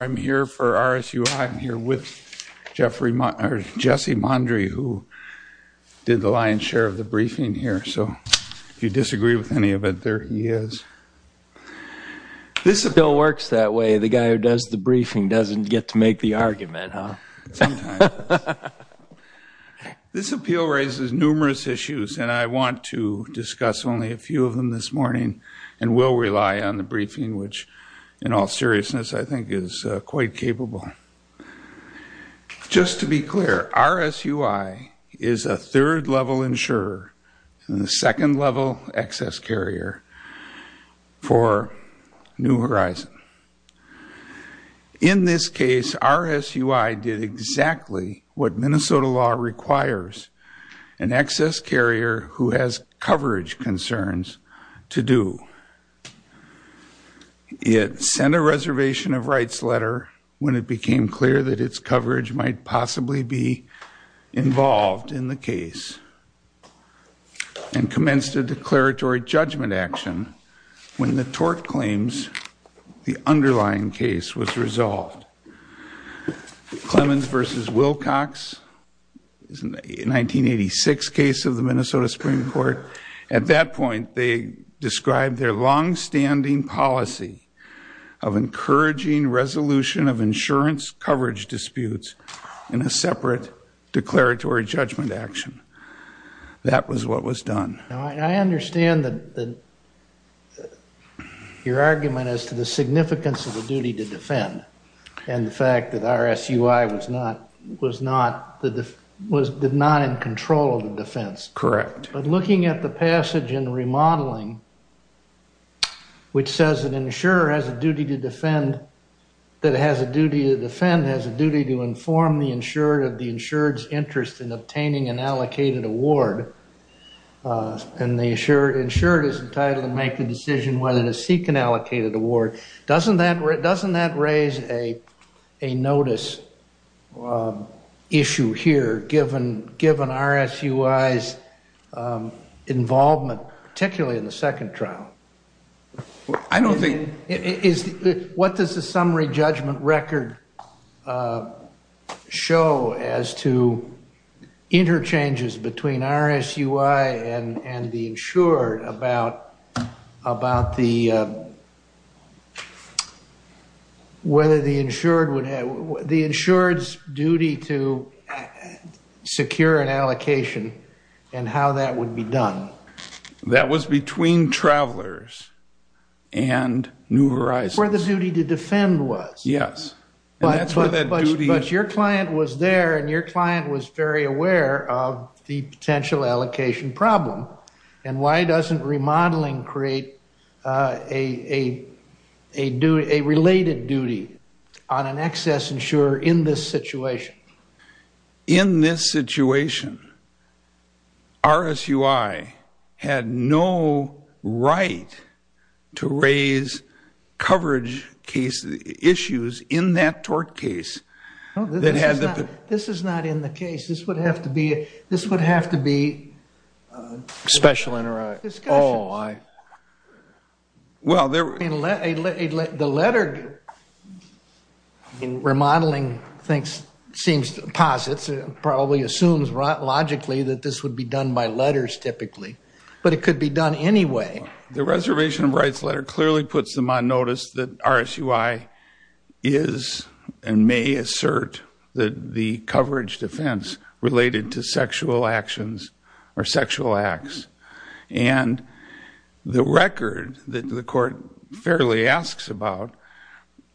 I'm here for RSUI. I'm here with Jesse Mondry, who did the lion's share of the briefing here. So if you disagree with any of it, there he is. This bill works that way. The guy who does the briefing doesn't get to make the argument, huh? Sometimes. This appeal raises numerous issues, and I want to discuss only a few of them this morning and will rely on the briefing, which, in all seriousness, I think is quite capable. Just to be clear, RSUI is a third-level insurer and a second-level excess carrier for New Horizon. In this case, RSUI did exactly what Minnesota law requires an excess carrier who has coverage concerns to do. It sent a reservation of rights letter when it became clear that its coverage might possibly be involved in the case and commenced a declaratory judgment action when the tort claims, the underlying case, was resolved. Clemens v. Wilcox is a 1986 case of the Minnesota Supreme Court. At that point, they described their longstanding policy of encouraging resolution of insurance coverage disputes in a separate declaratory judgment action. That was what was done. I understand your argument as to the significance of the duty to defend and the fact that RSUI was not in control of the defense. Correct. Looking at the passage in the remodeling, which says that an insurer has a duty to defend, has a duty to inform the insured of the insured's interest in obtaining an allocated award, and the insured is entitled to make the decision whether to seek an allocated award, doesn't that raise a notice issue here given RSUI's involvement, particularly in the second trial? What does the summary judgment record show as to interchanges between RSUI and the insured about whether the insured's duty to secure an allocation and how that would be done? That was between Travelers and New Horizons. Where the duty to defend was. Yes. But your client was there, and your client was very aware of the potential allocation problem. And why doesn't remodeling create a related duty on an excess insurer in this situation? In this situation, RSUI had no right to raise coverage issues in that tort case. This is not in the case. This would have to be a special interaction. Oh, I. Well, there. The letter in remodeling thinks, seems, posits, probably assumes logically that this would be done by letters typically, but it could be done anyway. The Reservation of Rights letter clearly puts them on notice that RSUI is and may assert the coverage defense related to sexual actions or sexual acts. And the record that the court fairly asks about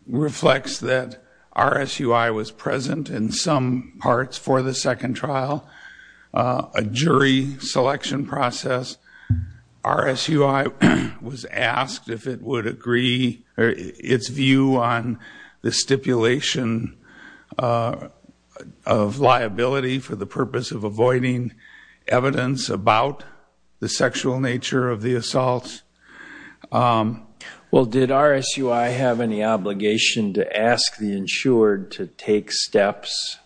reflects that RSUI was present in some parts for the second trial, a jury selection process. RSUI was asked if it would agree its view on the stipulation of liability for the purpose of avoiding evidence about the sexual nature of the assaults. Well, did RSUI have any obligation to ask the insured to take steps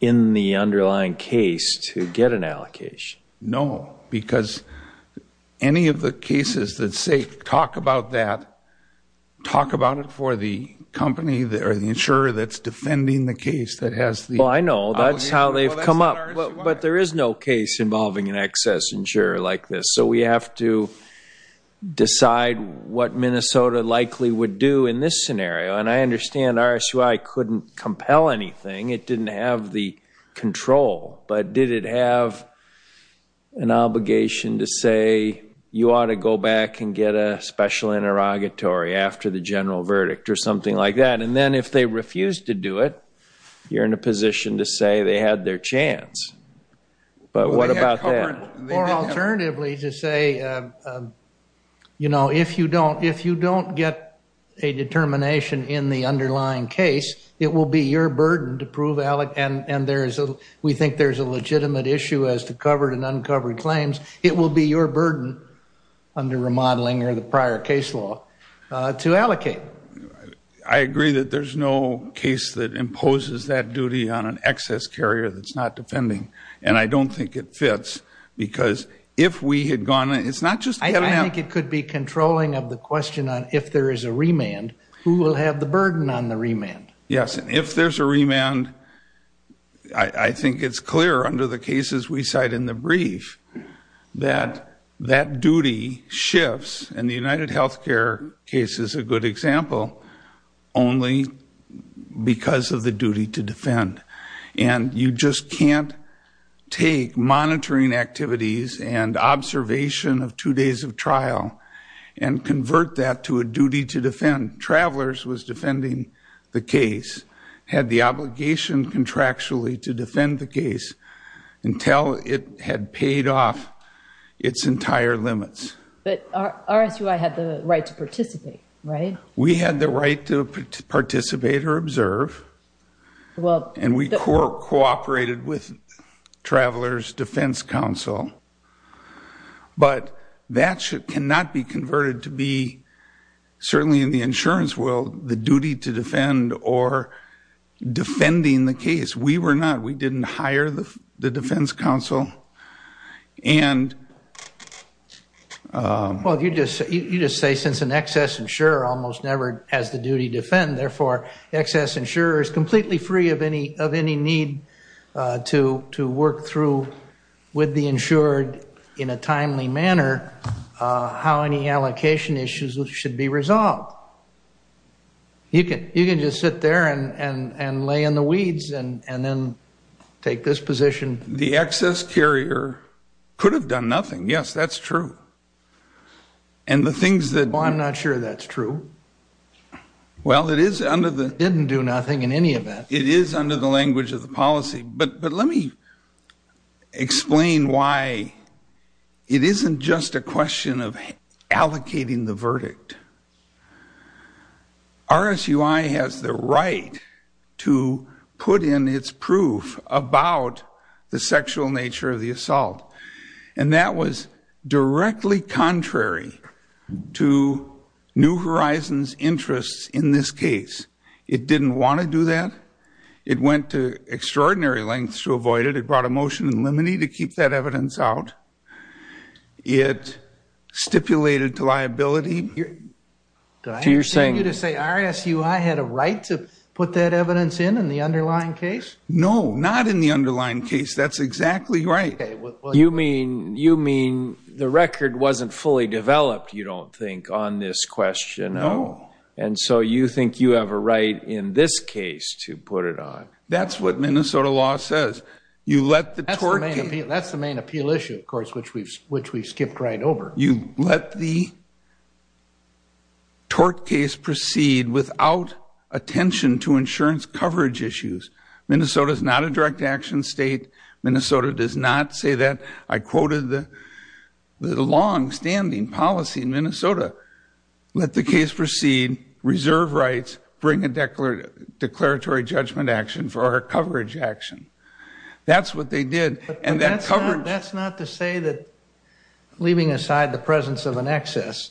in the underlying case to get an allocation? No, because any of the cases that say talk about that, talk about it for the company or the insurer that's defending the case that has the. Well, I know that's how they've come up, but there is no case involving an excess insurer like this. So we have to decide what Minnesota likely would do in this scenario. And I understand RSUI couldn't compel anything. It didn't have the control, but did it have an obligation to say you ought to go back and get a special interrogatory after the general verdict or something like that? And then if they refused to do it, you're in a position to say they had their chance. But what about that? Or alternatively to say, you know, if you don't get a determination in the underlying case, it will be your burden to prove and we think there's a legitimate issue as to covered and uncovered claims. It will be your burden under remodeling or the prior case law to allocate. I agree that there's no case that imposes that duty on an excess carrier that's not defending. And I don't think it fits because if we had gone, it's not just. I think it could be controlling of the question on if there is a remand, who will have the burden on the remand? Yes. And if there's a remand, I think it's clear under the cases we cite in the brief that that duty shifts. And the UnitedHealthcare case is a good example only because of the duty to defend. And you just can't take monitoring activities and observation of two days of trial and convert that to a duty to defend. Travelers was defending the case, had the obligation contractually to defend the case until it had paid off its entire limits. But RSUI had the right to participate, right? We had the right to participate or observe. And we cooperated with Travelers Defense Council. But that cannot be converted to be, certainly in the insurance world, the duty to defend or defending the case. We were not. We didn't hire the Defense Council. Well, you just say since an excess insurer almost never has the duty to defend, therefore excess insurer is completely free of any need to work through with the insured in a timely manner how any allocation issues should be resolved. You can just sit there and lay in the weeds and then take this position. The excess carrier could have done nothing. Yes, that's true. And the things that... Well, I'm not sure that's true. Well, it is under the... Didn't do nothing in any event. It is under the language of the policy. But let me explain why it isn't just a question of allocating the verdict. RSUI has the right to put in its proof about the sexual nature of the assault. And that was directly contrary to New Horizons' interests in this case. It didn't want to do that. It went to extraordinary lengths to avoid it. It brought a motion in limine to keep that evidence out. It stipulated liability. Do I understand you to say RSUI had a right to put that evidence in in the underlying case? No, not in the underlying case. That's exactly right. You mean the record wasn't fully developed, you don't think, on this question? No. And so you think you have a right in this case to put it on? That's what Minnesota law says. That's the main appeal issue, of course, which we skipped right over. You let the tort case proceed without attention to insurance coverage issues. Minnesota is not a direct action state. Minnesota does not say that. I quoted the longstanding policy in Minnesota. Let the case proceed, reserve rights, bring a declaratory judgment action for our coverage action. That's what they did. That's not to say that, leaving aside the presence of an excess,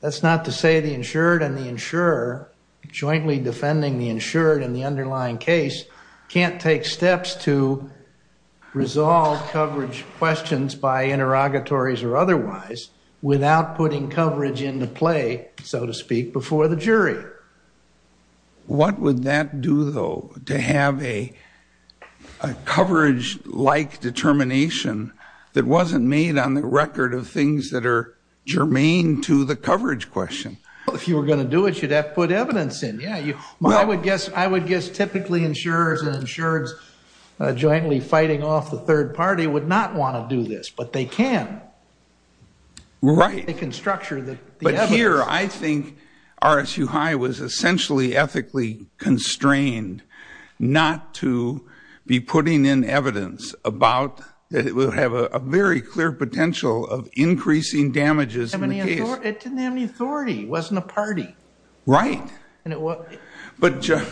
that's not to say the insured and the insurer, jointly defending the insured and the underlying case, can't take steps to resolve coverage questions by interrogatories or otherwise without putting coverage into play, so to speak, before the jury. What would that do, though, to have a coverage-like determination that wasn't made on the record of things that are germane to the coverage question? If you were going to do it, you'd have to put evidence in. I would guess typically insurers and insureds jointly fighting off the third party would not want to do this, but they can. Right. They can structure the evidence. But here I think RSU High was essentially ethically constrained not to be putting in evidence that it would have a very clear potential of increasing damages in the case. It didn't have any authority. It wasn't a party. Right. But Judge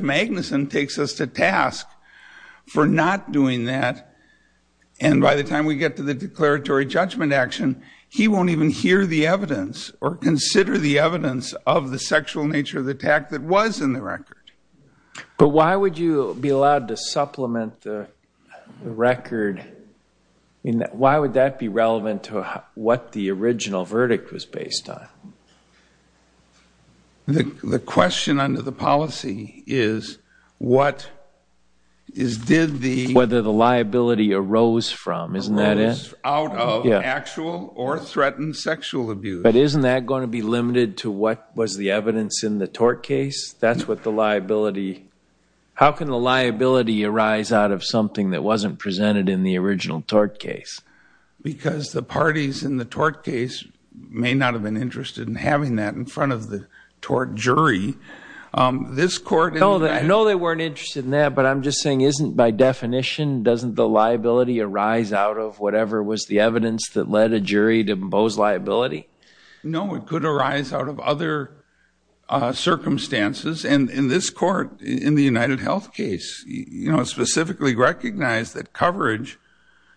Magnuson takes us to task for not doing that, and by the time we get to the declaratory judgment action, he won't even hear the evidence or consider the evidence of the sexual nature of the attack that was in the record. But why would you be allowed to supplement the record? Why would that be relevant to what the original verdict was based on? The question under the policy is what is did the whether the liability arose from, isn't that it? Out of actual or threatened sexual abuse. But isn't that going to be limited to what was the evidence in the tort case? That's what the liability. How can the liability arise out of something that wasn't presented in the original tort case? Because the parties in the tort case may not have been interested in having that in front of the tort jury. I know they weren't interested in that, but I'm just saying isn't by definition, doesn't the liability arise out of whatever was the evidence that led a jury to impose liability? No, it could arise out of other circumstances. And in this court, in the UnitedHealth case, specifically recognized that coverage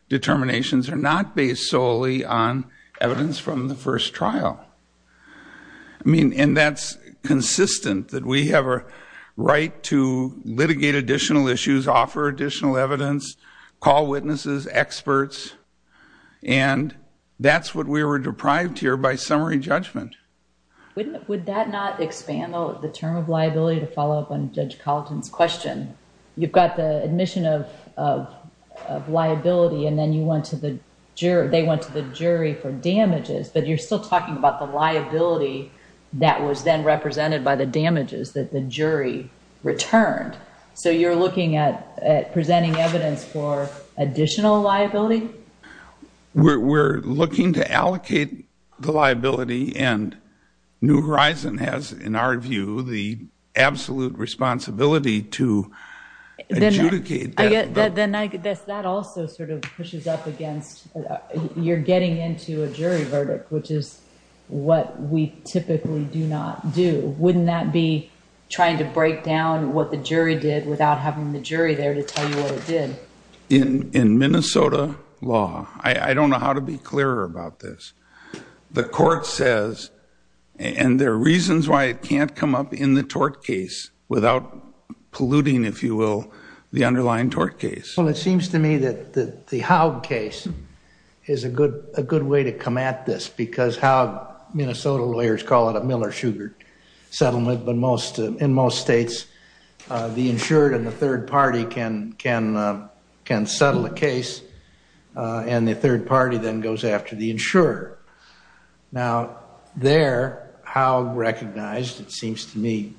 determinations are not based solely on evidence from the first trial. I mean, and that's consistent that we have a right to litigate additional issues, offer additional evidence, call witnesses, experts. And that's what we were deprived here by summary judgment. Would that not expand the term of liability to follow up on Judge Colleton's question? You've got the admission of liability and then you went to the jury, or they went to the jury for damages, but you're still talking about the liability that was then represented by the damages that the jury returned. So you're looking at presenting evidence for additional liability? We're looking to allocate the liability and New Horizon has, in our view, the absolute responsibility to adjudicate that. That also sort of pushes up against you're getting into a jury verdict, which is what we typically do not do. Wouldn't that be trying to break down what the jury did without having the jury there to tell you what it did? In Minnesota law, I don't know how to be clearer about this, the court says, and there are reasons why it can't come up in the tort case without polluting, if you will, the underlying tort case. Well, it seems to me that the Howe case is a good way to come at this because Minnesota lawyers call it a Miller-Sugar settlement, but in most states the insured and the third party can settle a case Now, there, Howe recognized, it seems to me,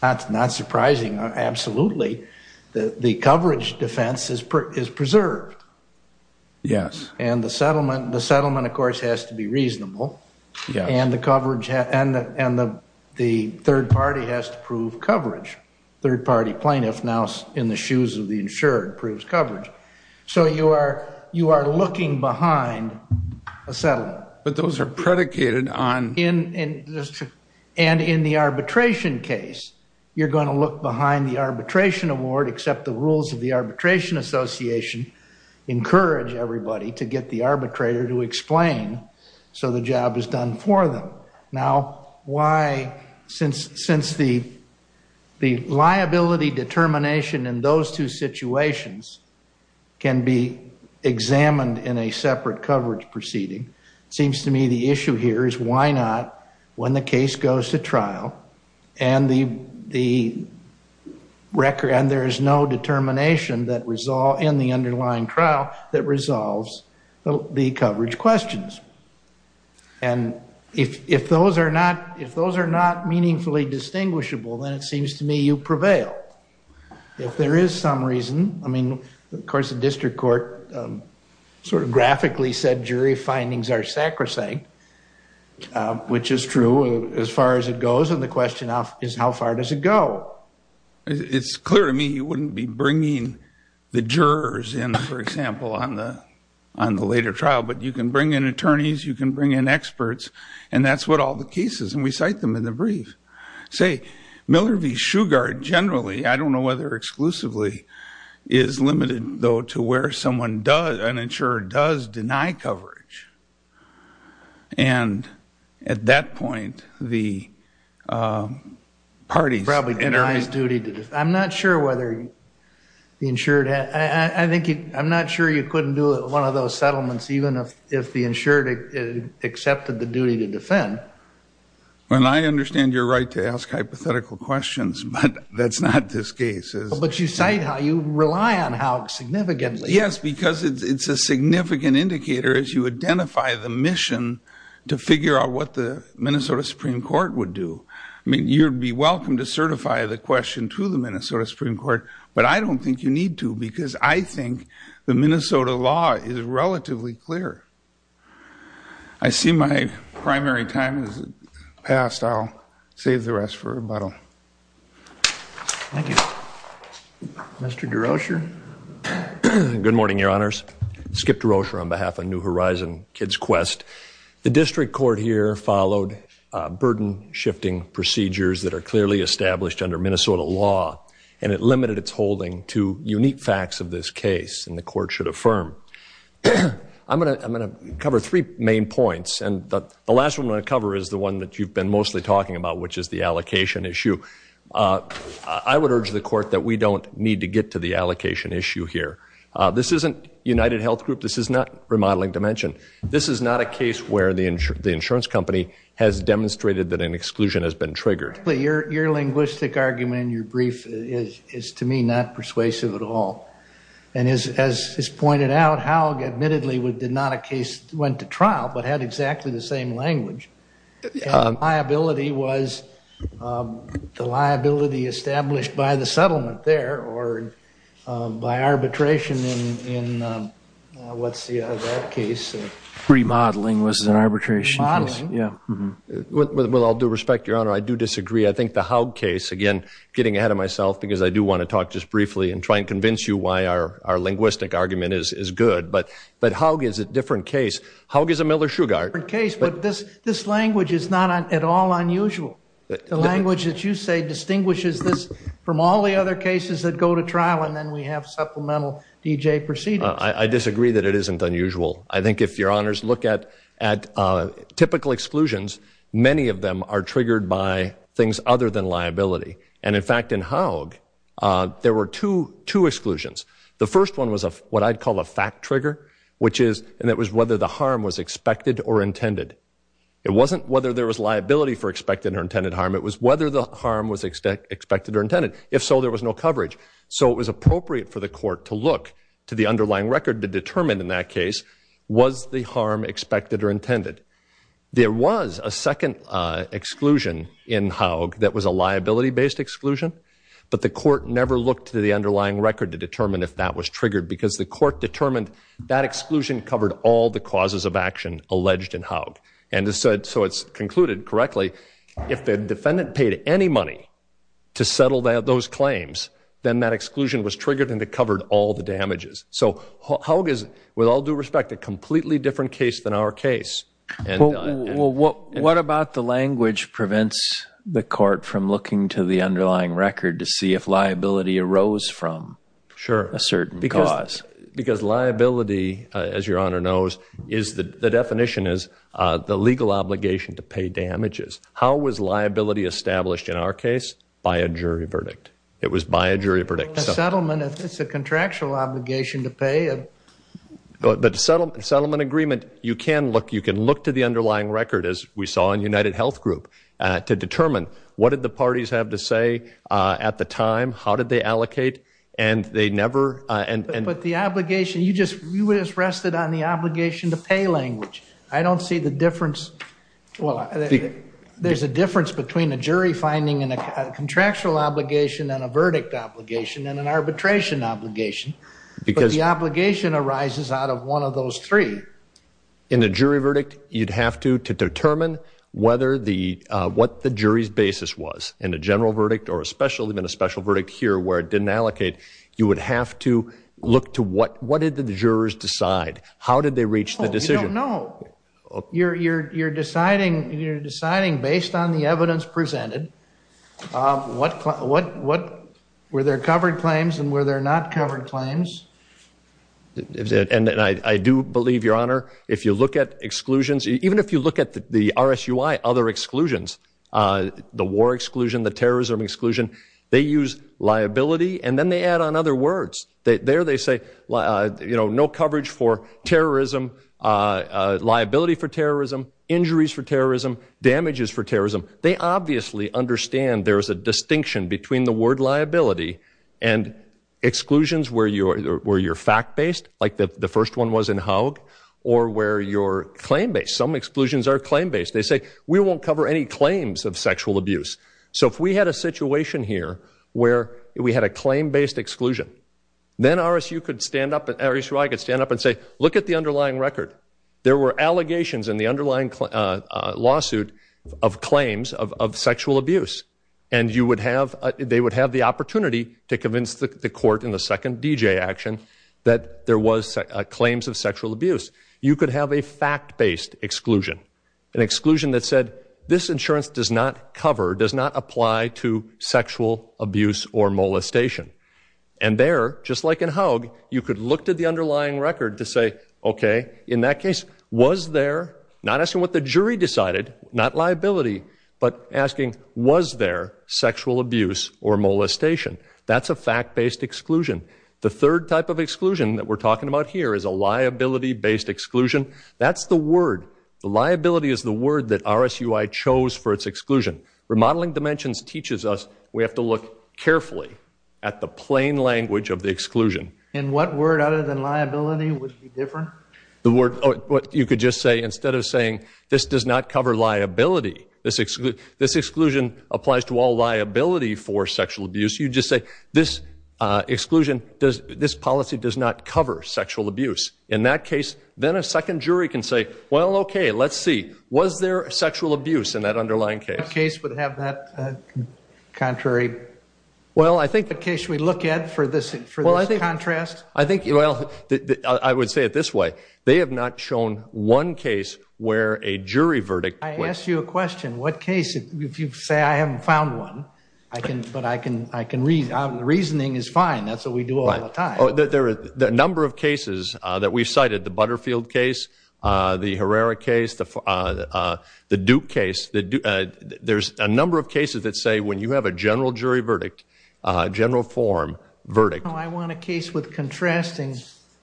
that's not surprising, absolutely, the coverage defense is preserved. Yes. And the settlement, of course, has to be reasonable, and the third party has to prove coverage. Third party plaintiff now in the shoes of the insured proves coverage. So you are looking behind a settlement. But those are predicated on... And in the arbitration case, you're going to look behind the arbitration award, accept the rules of the arbitration association, encourage everybody to get the arbitrator to explain so the job is done for them. Now, why, since the liability determination in those two situations can be examined in a separate coverage proceeding, it seems to me the issue here is why not when the case goes to trial and there is no determination in the underlying trial that resolves the coverage questions. And if those are not meaningfully distinguishable, then it seems to me you prevail. If there is some reason, I mean, of course, the district court sort of graphically said jury findings are sacrosanct, which is true as far as it goes, and the question is how far does it go? It's clear to me you wouldn't be bringing the jurors in, for example, on the later trial, but you can bring in attorneys, you can bring in experts, and that's what all the cases, and we cite them in the brief. Say, Miller v. Shugart generally, I don't know whether exclusively, is limited, though, to where someone does, an insurer, does deny coverage. And at that point, the parties... Probably denies duty to... I'm not sure whether the insured... I'm not sure you couldn't do one of those settlements even if the insured accepted the duty to defend. Well, I understand your right to ask hypothetical questions, but that's not this case. But you cite how you rely on how significantly. Yes, because it's a significant indicator as you identify the mission to figure out what the Minnesota Supreme Court would do. I mean, you'd be welcome to certify the question to the Minnesota Supreme Court, but I don't think you need to, because I think the Minnesota law is relatively clear. I see my primary time has passed. I'll save the rest for rebuttal. Thank you. Mr. DeRocher. Good morning, Your Honors. Skip DeRocher on behalf of New Horizon Kids Quest. The district court here followed burden-shifting procedures that are clearly established under Minnesota law, and it limited its holding to unique facts of this case, and the court should affirm. I'm going to cover three main points, and the last one I'm going to cover is the one that you've been mostly talking about, which is the allocation issue. I would urge the court that we don't need to get to the allocation issue here. This isn't UnitedHealth Group. This is not Remodeling Dimension. This is not a case where the insurance company has demonstrated that an exclusion has been triggered. Your linguistic argument in your brief is, to me, not persuasive at all. And as is pointed out, Haug admittedly did not a case, went to trial, but had exactly the same language. The liability was the liability established by the settlement there or by arbitration in what's that case? Remodeling was an arbitration case. Well, I'll do respect, Your Honor. I do disagree. I think the Haug case, again, getting ahead of myself because I do want to talk just briefly and try and convince you why our linguistic argument is good, but Haug is a different case. Haug is a Miller-Sugar case. But this language is not at all unusual. The language that you say distinguishes this from all the other cases that go to trial, and then we have supplemental D.J. proceedings. I disagree that it isn't unusual. I think if Your Honors look at typical exclusions, many of them are triggered by things other than liability. And, in fact, in Haug, there were two exclusions. The first one was what I'd call a fact trigger, which is whether the harm was expected or intended. It wasn't whether there was liability for expected or intended harm. It was whether the harm was expected or intended. If so, there was no coverage. So it was appropriate for the court to look to the underlying record to determine in that case was the harm expected or intended. There was a second exclusion in Haug that was a liability-based exclusion, but the court never looked to the underlying record to determine if that was triggered because the court determined that exclusion covered all the causes of action alleged in Haug. And so it's concluded correctly if the defendant paid any money to settle those claims, then that exclusion was triggered and it covered all the damages. So Haug is, with all due respect, a completely different case than our case. Well, what about the language prevents the court from looking to the underlying record to see if liability arose from a certain cause? Because liability, as Your Honor knows, the definition is the legal obligation to pay damages. How was liability established in our case? By a jury verdict. It was by a jury verdict. But the settlement, it's a contractual obligation to pay. But the settlement agreement, you can look to the underlying record, as we saw in UnitedHealth Group, to determine what did the parties have to say at the time, how did they allocate, and they never. But the obligation, you just rested on the obligation to pay language. I don't see the difference. There's a difference between a jury finding a contractual obligation and a verdict obligation and an arbitration obligation. But the obligation arises out of one of those three. In a jury verdict, you'd have to determine what the jury's basis was. In a general verdict or even a special verdict here where it didn't allocate, you would have to look to what did the jurors decide? How did they reach the decision? I don't know. You're deciding based on the evidence presented. Were there covered claims and were there not covered claims? I do believe, Your Honor, if you look at exclusions, even if you look at the RSUI, other exclusions, the war exclusion, the terrorism exclusion, they use liability, and then they add on other words. There they say, you know, no coverage for terrorism, liability for terrorism, injuries for terrorism, damages for terrorism. They obviously understand there is a distinction between the word liability and exclusions where you're fact-based, like the first one was in Haug, or where you're claim-based. Some exclusions are claim-based. They say, we won't cover any claims of sexual abuse. So if we had a situation here where we had a claim-based exclusion, then RSUI could stand up and say, look at the underlying record. There were allegations in the underlying lawsuit of claims of sexual abuse, and they would have the opportunity to convince the court in the second DJ action that there was claims of sexual abuse. You could have a fact-based exclusion, an exclusion that said, this insurance does not cover, does not apply to sexual abuse or molestation. And there, just like in Haug, you could look to the underlying record to say, okay, in that case, was there, not asking what the jury decided, not liability, but asking, was there sexual abuse or molestation? That's a fact-based exclusion. The third type of exclusion that we're talking about here is a liability-based exclusion. That's the word. The liability is the word that RSUI chose for its exclusion. Remodeling Dimensions teaches us we have to look carefully at the plain language of the exclusion. And what word other than liability would be different? The word, you could just say, instead of saying, this does not cover liability, this exclusion applies to all liability for sexual abuse, you just say, this exclusion, this policy does not cover sexual abuse. In that case, then a second jury can say, well, okay, let's see. Was there sexual abuse in that underlying case? What case would have that contrary? What case should we look at for this contrast? Well, I would say it this way. They have not shown one case where a jury verdict. I asked you a question. What case, if you say, I haven't found one, but I can read, the reasoning is fine, that's what we do all the time. The number of cases that we've cited, the Butterfield case, the Herrera case, the Duke case, there's a number of cases that say when you have a general jury verdict, general form verdict. No, I want a case with contrasting,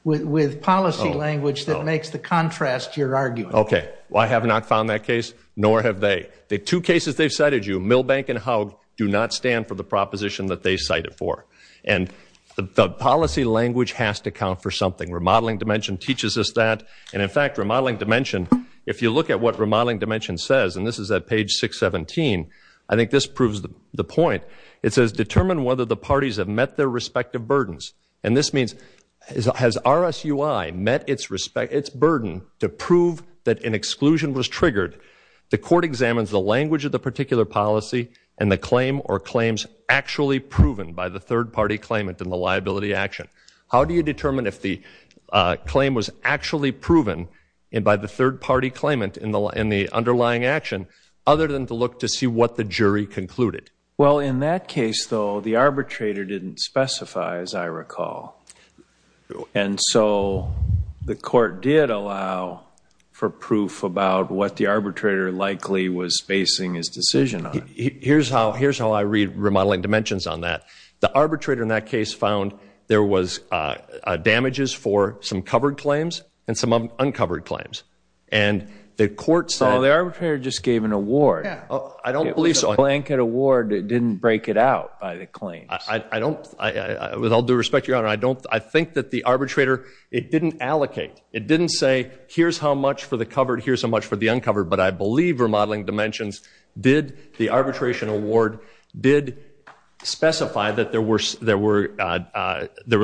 with policy language that makes the contrast your argument. Okay. Well, I have not found that case, nor have they. The two cases they've cited you, Milbank and Haug, do not stand for the proposition that they cite it for. And the policy language has to count for something. Remodeling dimension teaches us that. And, in fact, remodeling dimension, if you look at what remodeling dimension says, and this is at page 617, I think this proves the point. It says, determine whether the parties have met their respective burdens. And this means, has RSUI met its burden to prove that an exclusion was triggered? The court examines the language of the particular policy and the claim or claims actually proven by the third-party claimant in the liability action. How do you determine if the claim was actually proven by the third-party claimant in the underlying action, other than to look to see what the jury concluded? Well, in that case, though, the arbitrator didn't specify, as I recall. And so the court did allow for proof about what the arbitrator likely was facing his decision on. Here's how I read remodeling dimensions on that. The arbitrator in that case found there was damages for some covered claims and some uncovered claims. And the court said- Well, the arbitrator just gave an award. I don't believe so. It was a blanket award that didn't break it out by the claims. With all due respect, Your Honor, I think that the arbitrator, it didn't allocate. It didn't say, here's how much for the covered, here's how much for the uncovered. But I believe remodeling dimensions did, the arbitration award, did specify that there was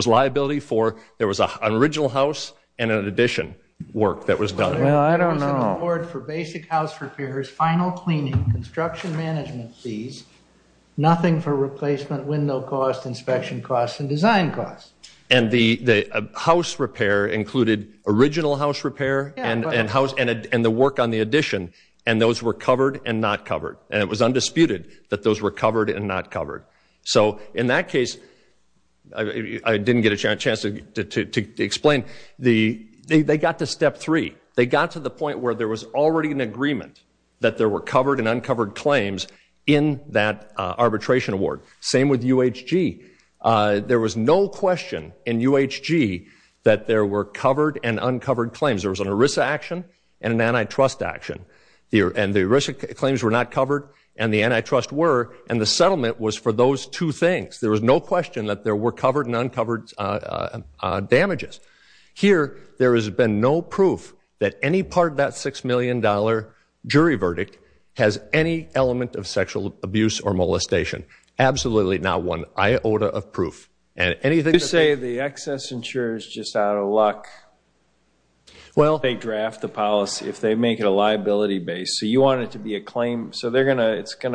liability for, there was an original house and an addition work that was done. Well, I don't know. There was an award for basic house repairs, final cleaning, construction management fees, nothing for replacement window costs, inspection costs, and design costs. And the house repair included original house repair and the work on the addition, and those were covered and not covered. And it was undisputed that those were covered and not covered. So in that case, I didn't get a chance to explain, they got to step three. They got to the point where there was already an agreement that there were covered and uncovered claims in that arbitration award. Same with UHG. There was no question in UHG that there were covered and uncovered claims. There was an ERISA action and an antitrust action. And the ERISA claims were not covered, and the antitrust were, and the settlement was for those two things. There was no question that there were covered and uncovered damages. Here, there has been no proof that any part of that $6 million jury verdict has any element of sexual abuse or molestation. Absolutely not one iota of proof. You say the excess insurer is just out of luck. Well, they draft the policy if they make it a liability base. So you want it to be a claim. So it's going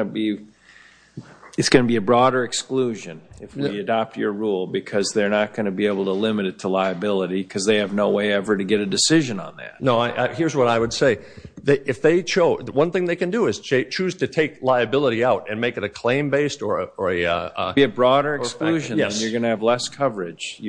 to be a broader exclusion if they adopt your rule because they're not going to be able to limit it to liability because they have no way ever to get a decision on that. No, here's what I would say. One thing they can do is choose to take liability out and make it a claim-based or a... Be a broader exclusion, and you're going to have less coverage,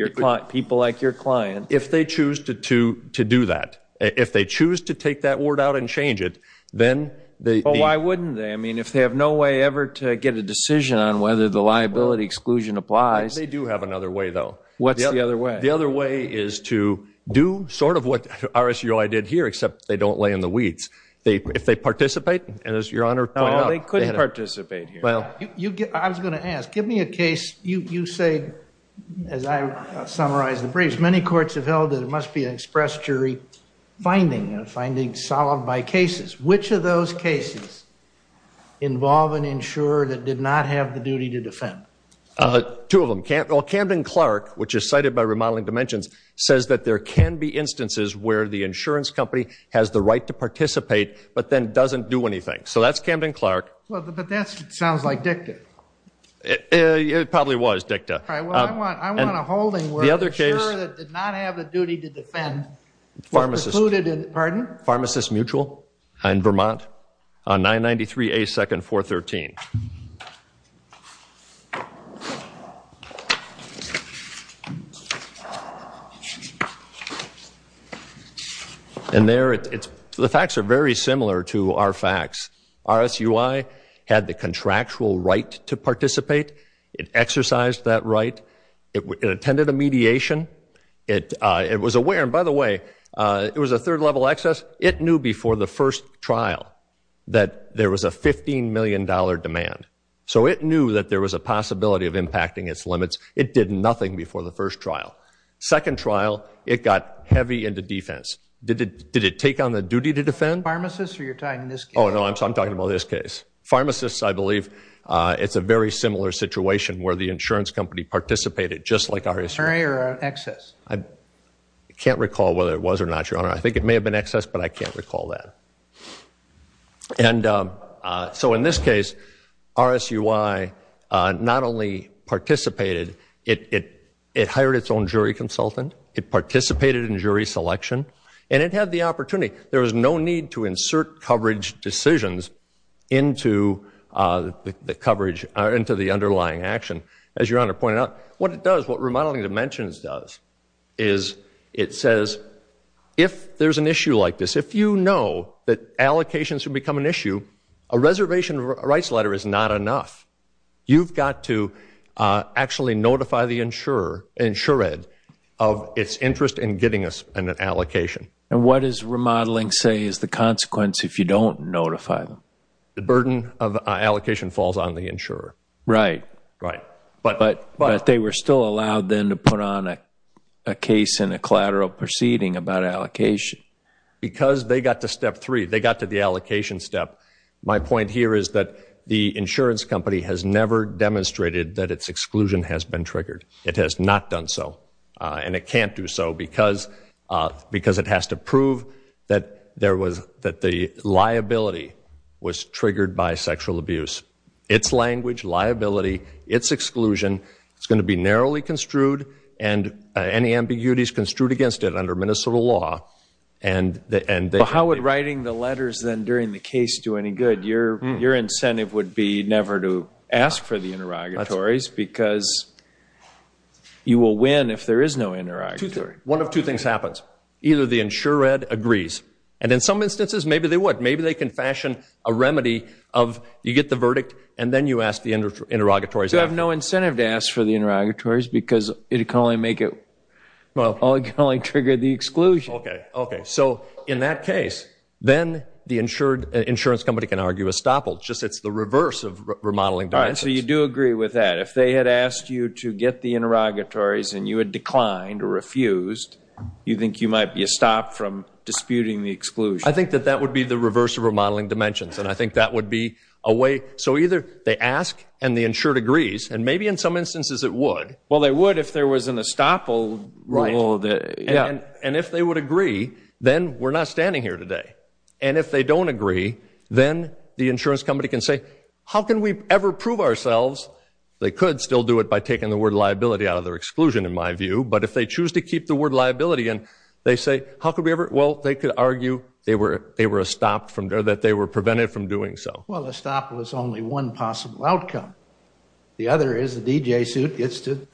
people like your client. If they choose to do that, if they choose to take that word out and change it, then they... Well, why wouldn't they? I mean, if they have no way ever to get a decision on whether the liability exclusion applies... They do have another way, though. What's the other way? The other way is to do sort of what RSUI did here, except they don't lay in the weeds. If they participate, as Your Honor pointed out... No, they couldn't participate here. I was going to ask, give me a case. You say, as I summarize the briefs, many courts have held that it must be an express jury finding, a finding solved by cases. Which of those cases involve an insurer that did not have the duty to defend? Two of them. Camden-Clark, which is cited by Remodeling Dimensions, says that there can be instances where the insurance company has the right to participate, but then doesn't do anything. So that's Camden-Clark. But that sounds like DICTA. It probably was DICTA. All right, well, I want a holding where the insurer that did not have the duty to defend... Pharmacists. Pardon? Pharmacists Mutual in Vermont on 993A 2nd 413. And there, the facts are very similar to our facts. RSUI had the contractual right to participate. It exercised that right. It attended a mediation. It was aware. And, by the way, it was a third-level access. It knew before the first trial that there was a $15 million demand. So it knew that there was a possibility of impacting its limits. It did nothing before the first trial. Second trial, it got heavy into defense. Did it take on the duty to defend? Pharmacists, or you're talking this case? Oh, no, I'm talking about this case. Pharmacists, I believe, it's a very similar situation where the insurance company participated, just like RSUI. Or excess. I can't recall whether it was or not, Your Honor. I think it may have been excess, but I can't recall that. And so, in this case, RSUI not only participated, it hired its own jury consultant. It participated in jury selection. And it had the opportunity. There was no need to insert coverage decisions into the underlying action. As Your Honor pointed out, what it does, what Remodeling Dimensions does, is it says, if there's an issue like this, if you know that allocations can become an issue, a reservation rights letter is not enough. You've got to actually notify the insured of its interest in getting an allocation. And what does Remodeling say is the consequence if you don't notify them? The burden of allocation falls on the insurer. Right. Right. But they were still allowed then to put on a case in a collateral proceeding about allocation. Because they got to step three. They got to the allocation step. My point here is that the insurance company has never demonstrated that its exclusion has been triggered. It has not done so. And it can't do so because it has to prove that the liability was triggered by sexual abuse. It's language, liability, it's exclusion. It's going to be narrowly construed and any ambiguities construed against it under Minnesota law. How would writing the letters then during the case do any good? Your incentive would be never to ask for the interrogatories because you will win if there is no interrogatory. One of two things happens. Either the insured agrees. And in some instances, maybe they would. You get the verdict and then you ask the interrogatories. You have no incentive to ask for the interrogatories because it can only trigger the exclusion. Okay. Okay. So in that case, then the insurance company can argue a stoppage. It's the reverse of remodeling dimensions. All right. So you do agree with that. If they had asked you to get the interrogatories and you had declined or refused, you think you might be stopped from disputing the exclusion. I think that that would be the reverse of remodeling dimensions. And I think that would be a way. So either they ask and the insured agrees. And maybe in some instances it would. Well, they would if there was an estoppel rule. And if they would agree, then we're not standing here today. And if they don't agree, then the insurance company can say, how can we ever prove ourselves? They could still do it by taking the word liability out of their exclusion, in my view. But if they choose to keep the word liability and they say, how could we ever? Well, they could argue that they were prevented from doing so. Well, estoppel is only one possible outcome. The other is the DJ suit gets to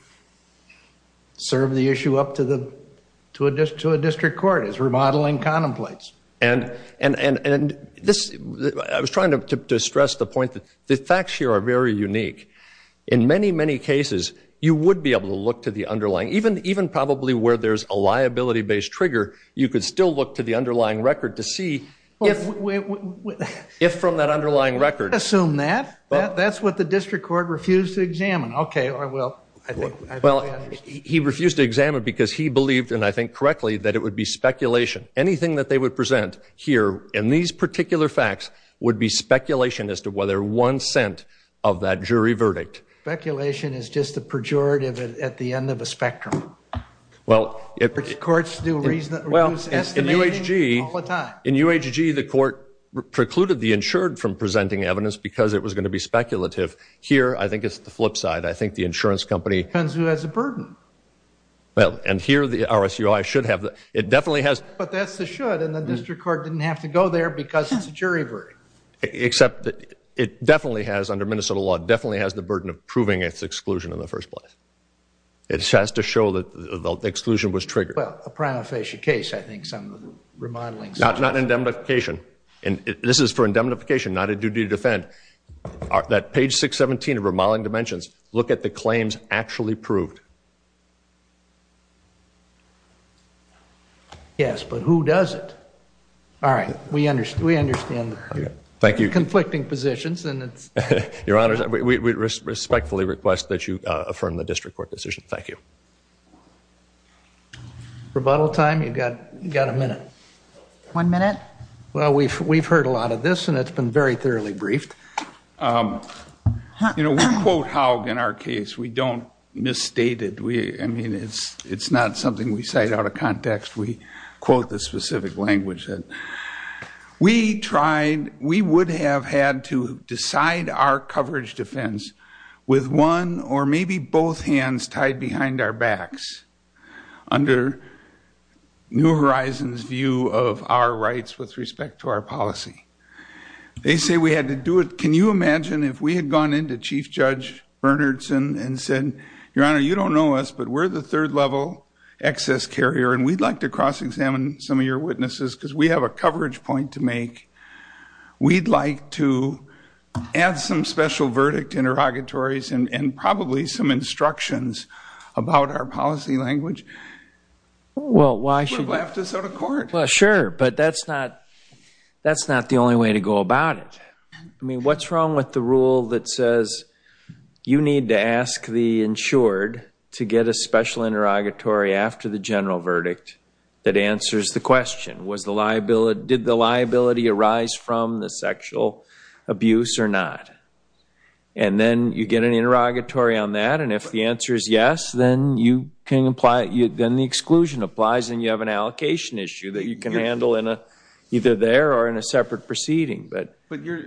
serve the issue up to a district court. It's remodeling contemplates. And I was trying to stress the point that the facts here are very unique. In many, many cases, you would be able to look to the underlying. Even probably where there's a liability-based trigger, you could still look to the underlying record to see if from that underlying record. Assume that. That's what the district court refused to examine. Okay. Well, he refused to examine because he believed, and I think correctly, that it would be speculation. Anything that they would present here in these particular facts would be speculation as to whether one cent of that jury verdict. Speculation is just a pejorative at the end of a spectrum. Well, in UHG, the court precluded the insured from presenting evidence because it was going to be speculative. Here, I think it's the flip side. I think the insurance company. Depends who has a burden. Well, and here the RSUI should have. It definitely has. But that's the should. And the district court didn't have to go there because it's a jury verdict. Except it definitely has, under Minnesota law, definitely has the burden of proving its exclusion in the first place. It has to show that the exclusion was triggered. Well, a prima facie case, I think some of the remodeling. Not indemnification. And this is for indemnification, not a duty to defend. That page 617 of Remodeling Dimensions, look at the claims actually proved. Yes, but who does it? All right. We understand. Thank you. Conflicting positions. Your Honor, we respectfully request that you affirm the district court decision. Thank you. Rebuttal time. You've got a minute. One minute. Well, we've heard a lot of this, and it's been very thoroughly briefed. You know, we quote Haug in our case. We don't misstate it. I mean, it's not something we cite out of context. We quote the specific language. We tried, we would have had to decide our coverage defense with one or maybe both hands tied behind our backs under New Horizons' view of our rights with respect to our policy. They say we had to do it. Can you imagine if we had gone into Chief Judge Bernardson and said, Your Honor, you don't know us, but we're the third level excess carrier, and we'd like to cross-examine some of your witnesses because we have a coverage point to make. We'd like to add some special verdict interrogatories and probably some instructions about our policy language. Well, why should we? It would have left us out of court. Well, sure, but that's not the only way to go about it. I mean, what's wrong with the rule that says you need to ask the insured to get a special interrogatory after the general verdict that answers the question, did the liability arise from the sexual abuse or not? And then you get an interrogatory on that, and if the answer is yes, then the exclusion applies and you have an allocation issue that you can handle either there or in a separate proceeding. But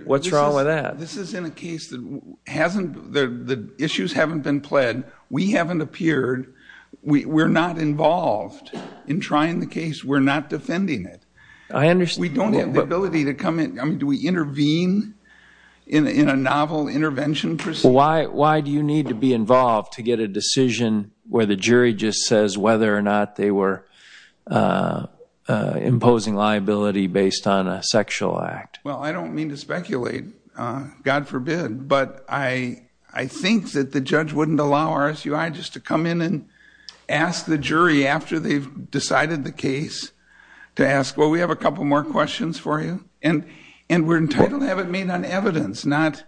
what's wrong with that? This is in a case that the issues haven't been pled. We haven't appeared. We're not involved in trying the case. We're not defending it. We don't have the ability to come in. I mean, do we intervene in a novel intervention proceeding? Why do you need to be involved to get a decision where the jury just says whether or not they were imposing liability based on a sexual act? Well, I don't mean to speculate, God forbid, but I think that the judge wouldn't allow RSUI just to come in and ask the jury after they've decided the case to ask, well, we have a couple more questions for you. And we're entitled to have it made on evidence, not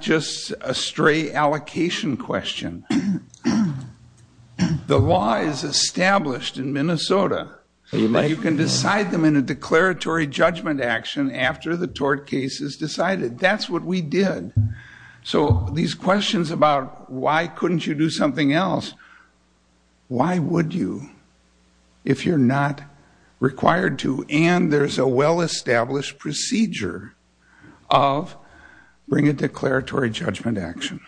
just a stray allocation question. The law is established in Minnesota. You can decide them in a declaratory judgment action after the tort case is decided. That's what we did. So these questions about why couldn't you do something else, why would you if you're not required to? And there's a well-established procedure of bring a declaratory judgment action.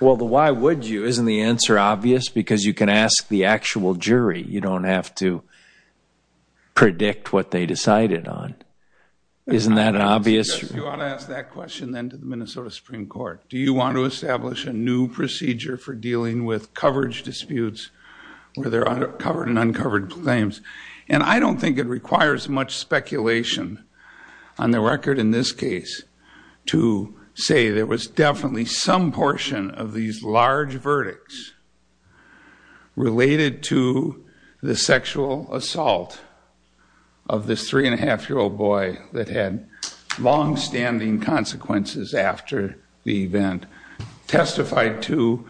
Well, the why would you, isn't the answer obvious? Because you can ask the actual jury. You don't have to predict what they decided on. Isn't that an obvious? You ought to ask that question then to the Minnesota Supreme Court. Do you want to establish a new procedure for dealing with coverage disputes where there are covered and uncovered claims? And I don't think it requires much speculation on the record in this case to say there was definitely some portion of these large verdicts related to the sexual assault of this three-and-a-half-year-old boy that had longstanding consequences after the event, testified to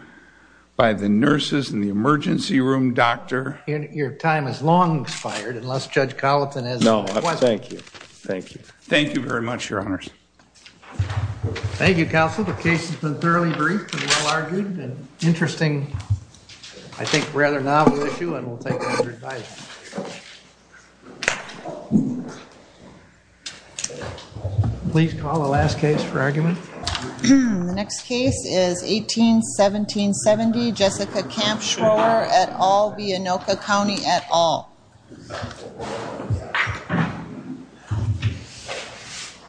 by the nurses and the emergency room doctor. Your time has long expired unless Judge Colleton has a question. No, thank you. Thank you very much, Your Honors. Thank you, Counsel. The case has been thoroughly briefed and well-argued and interesting, I think, rather novel issue, and we'll take all your advice. Please call the last case for argument. The next case is 18-17-70, Jessica Campschroer et al., Viannoka County et al.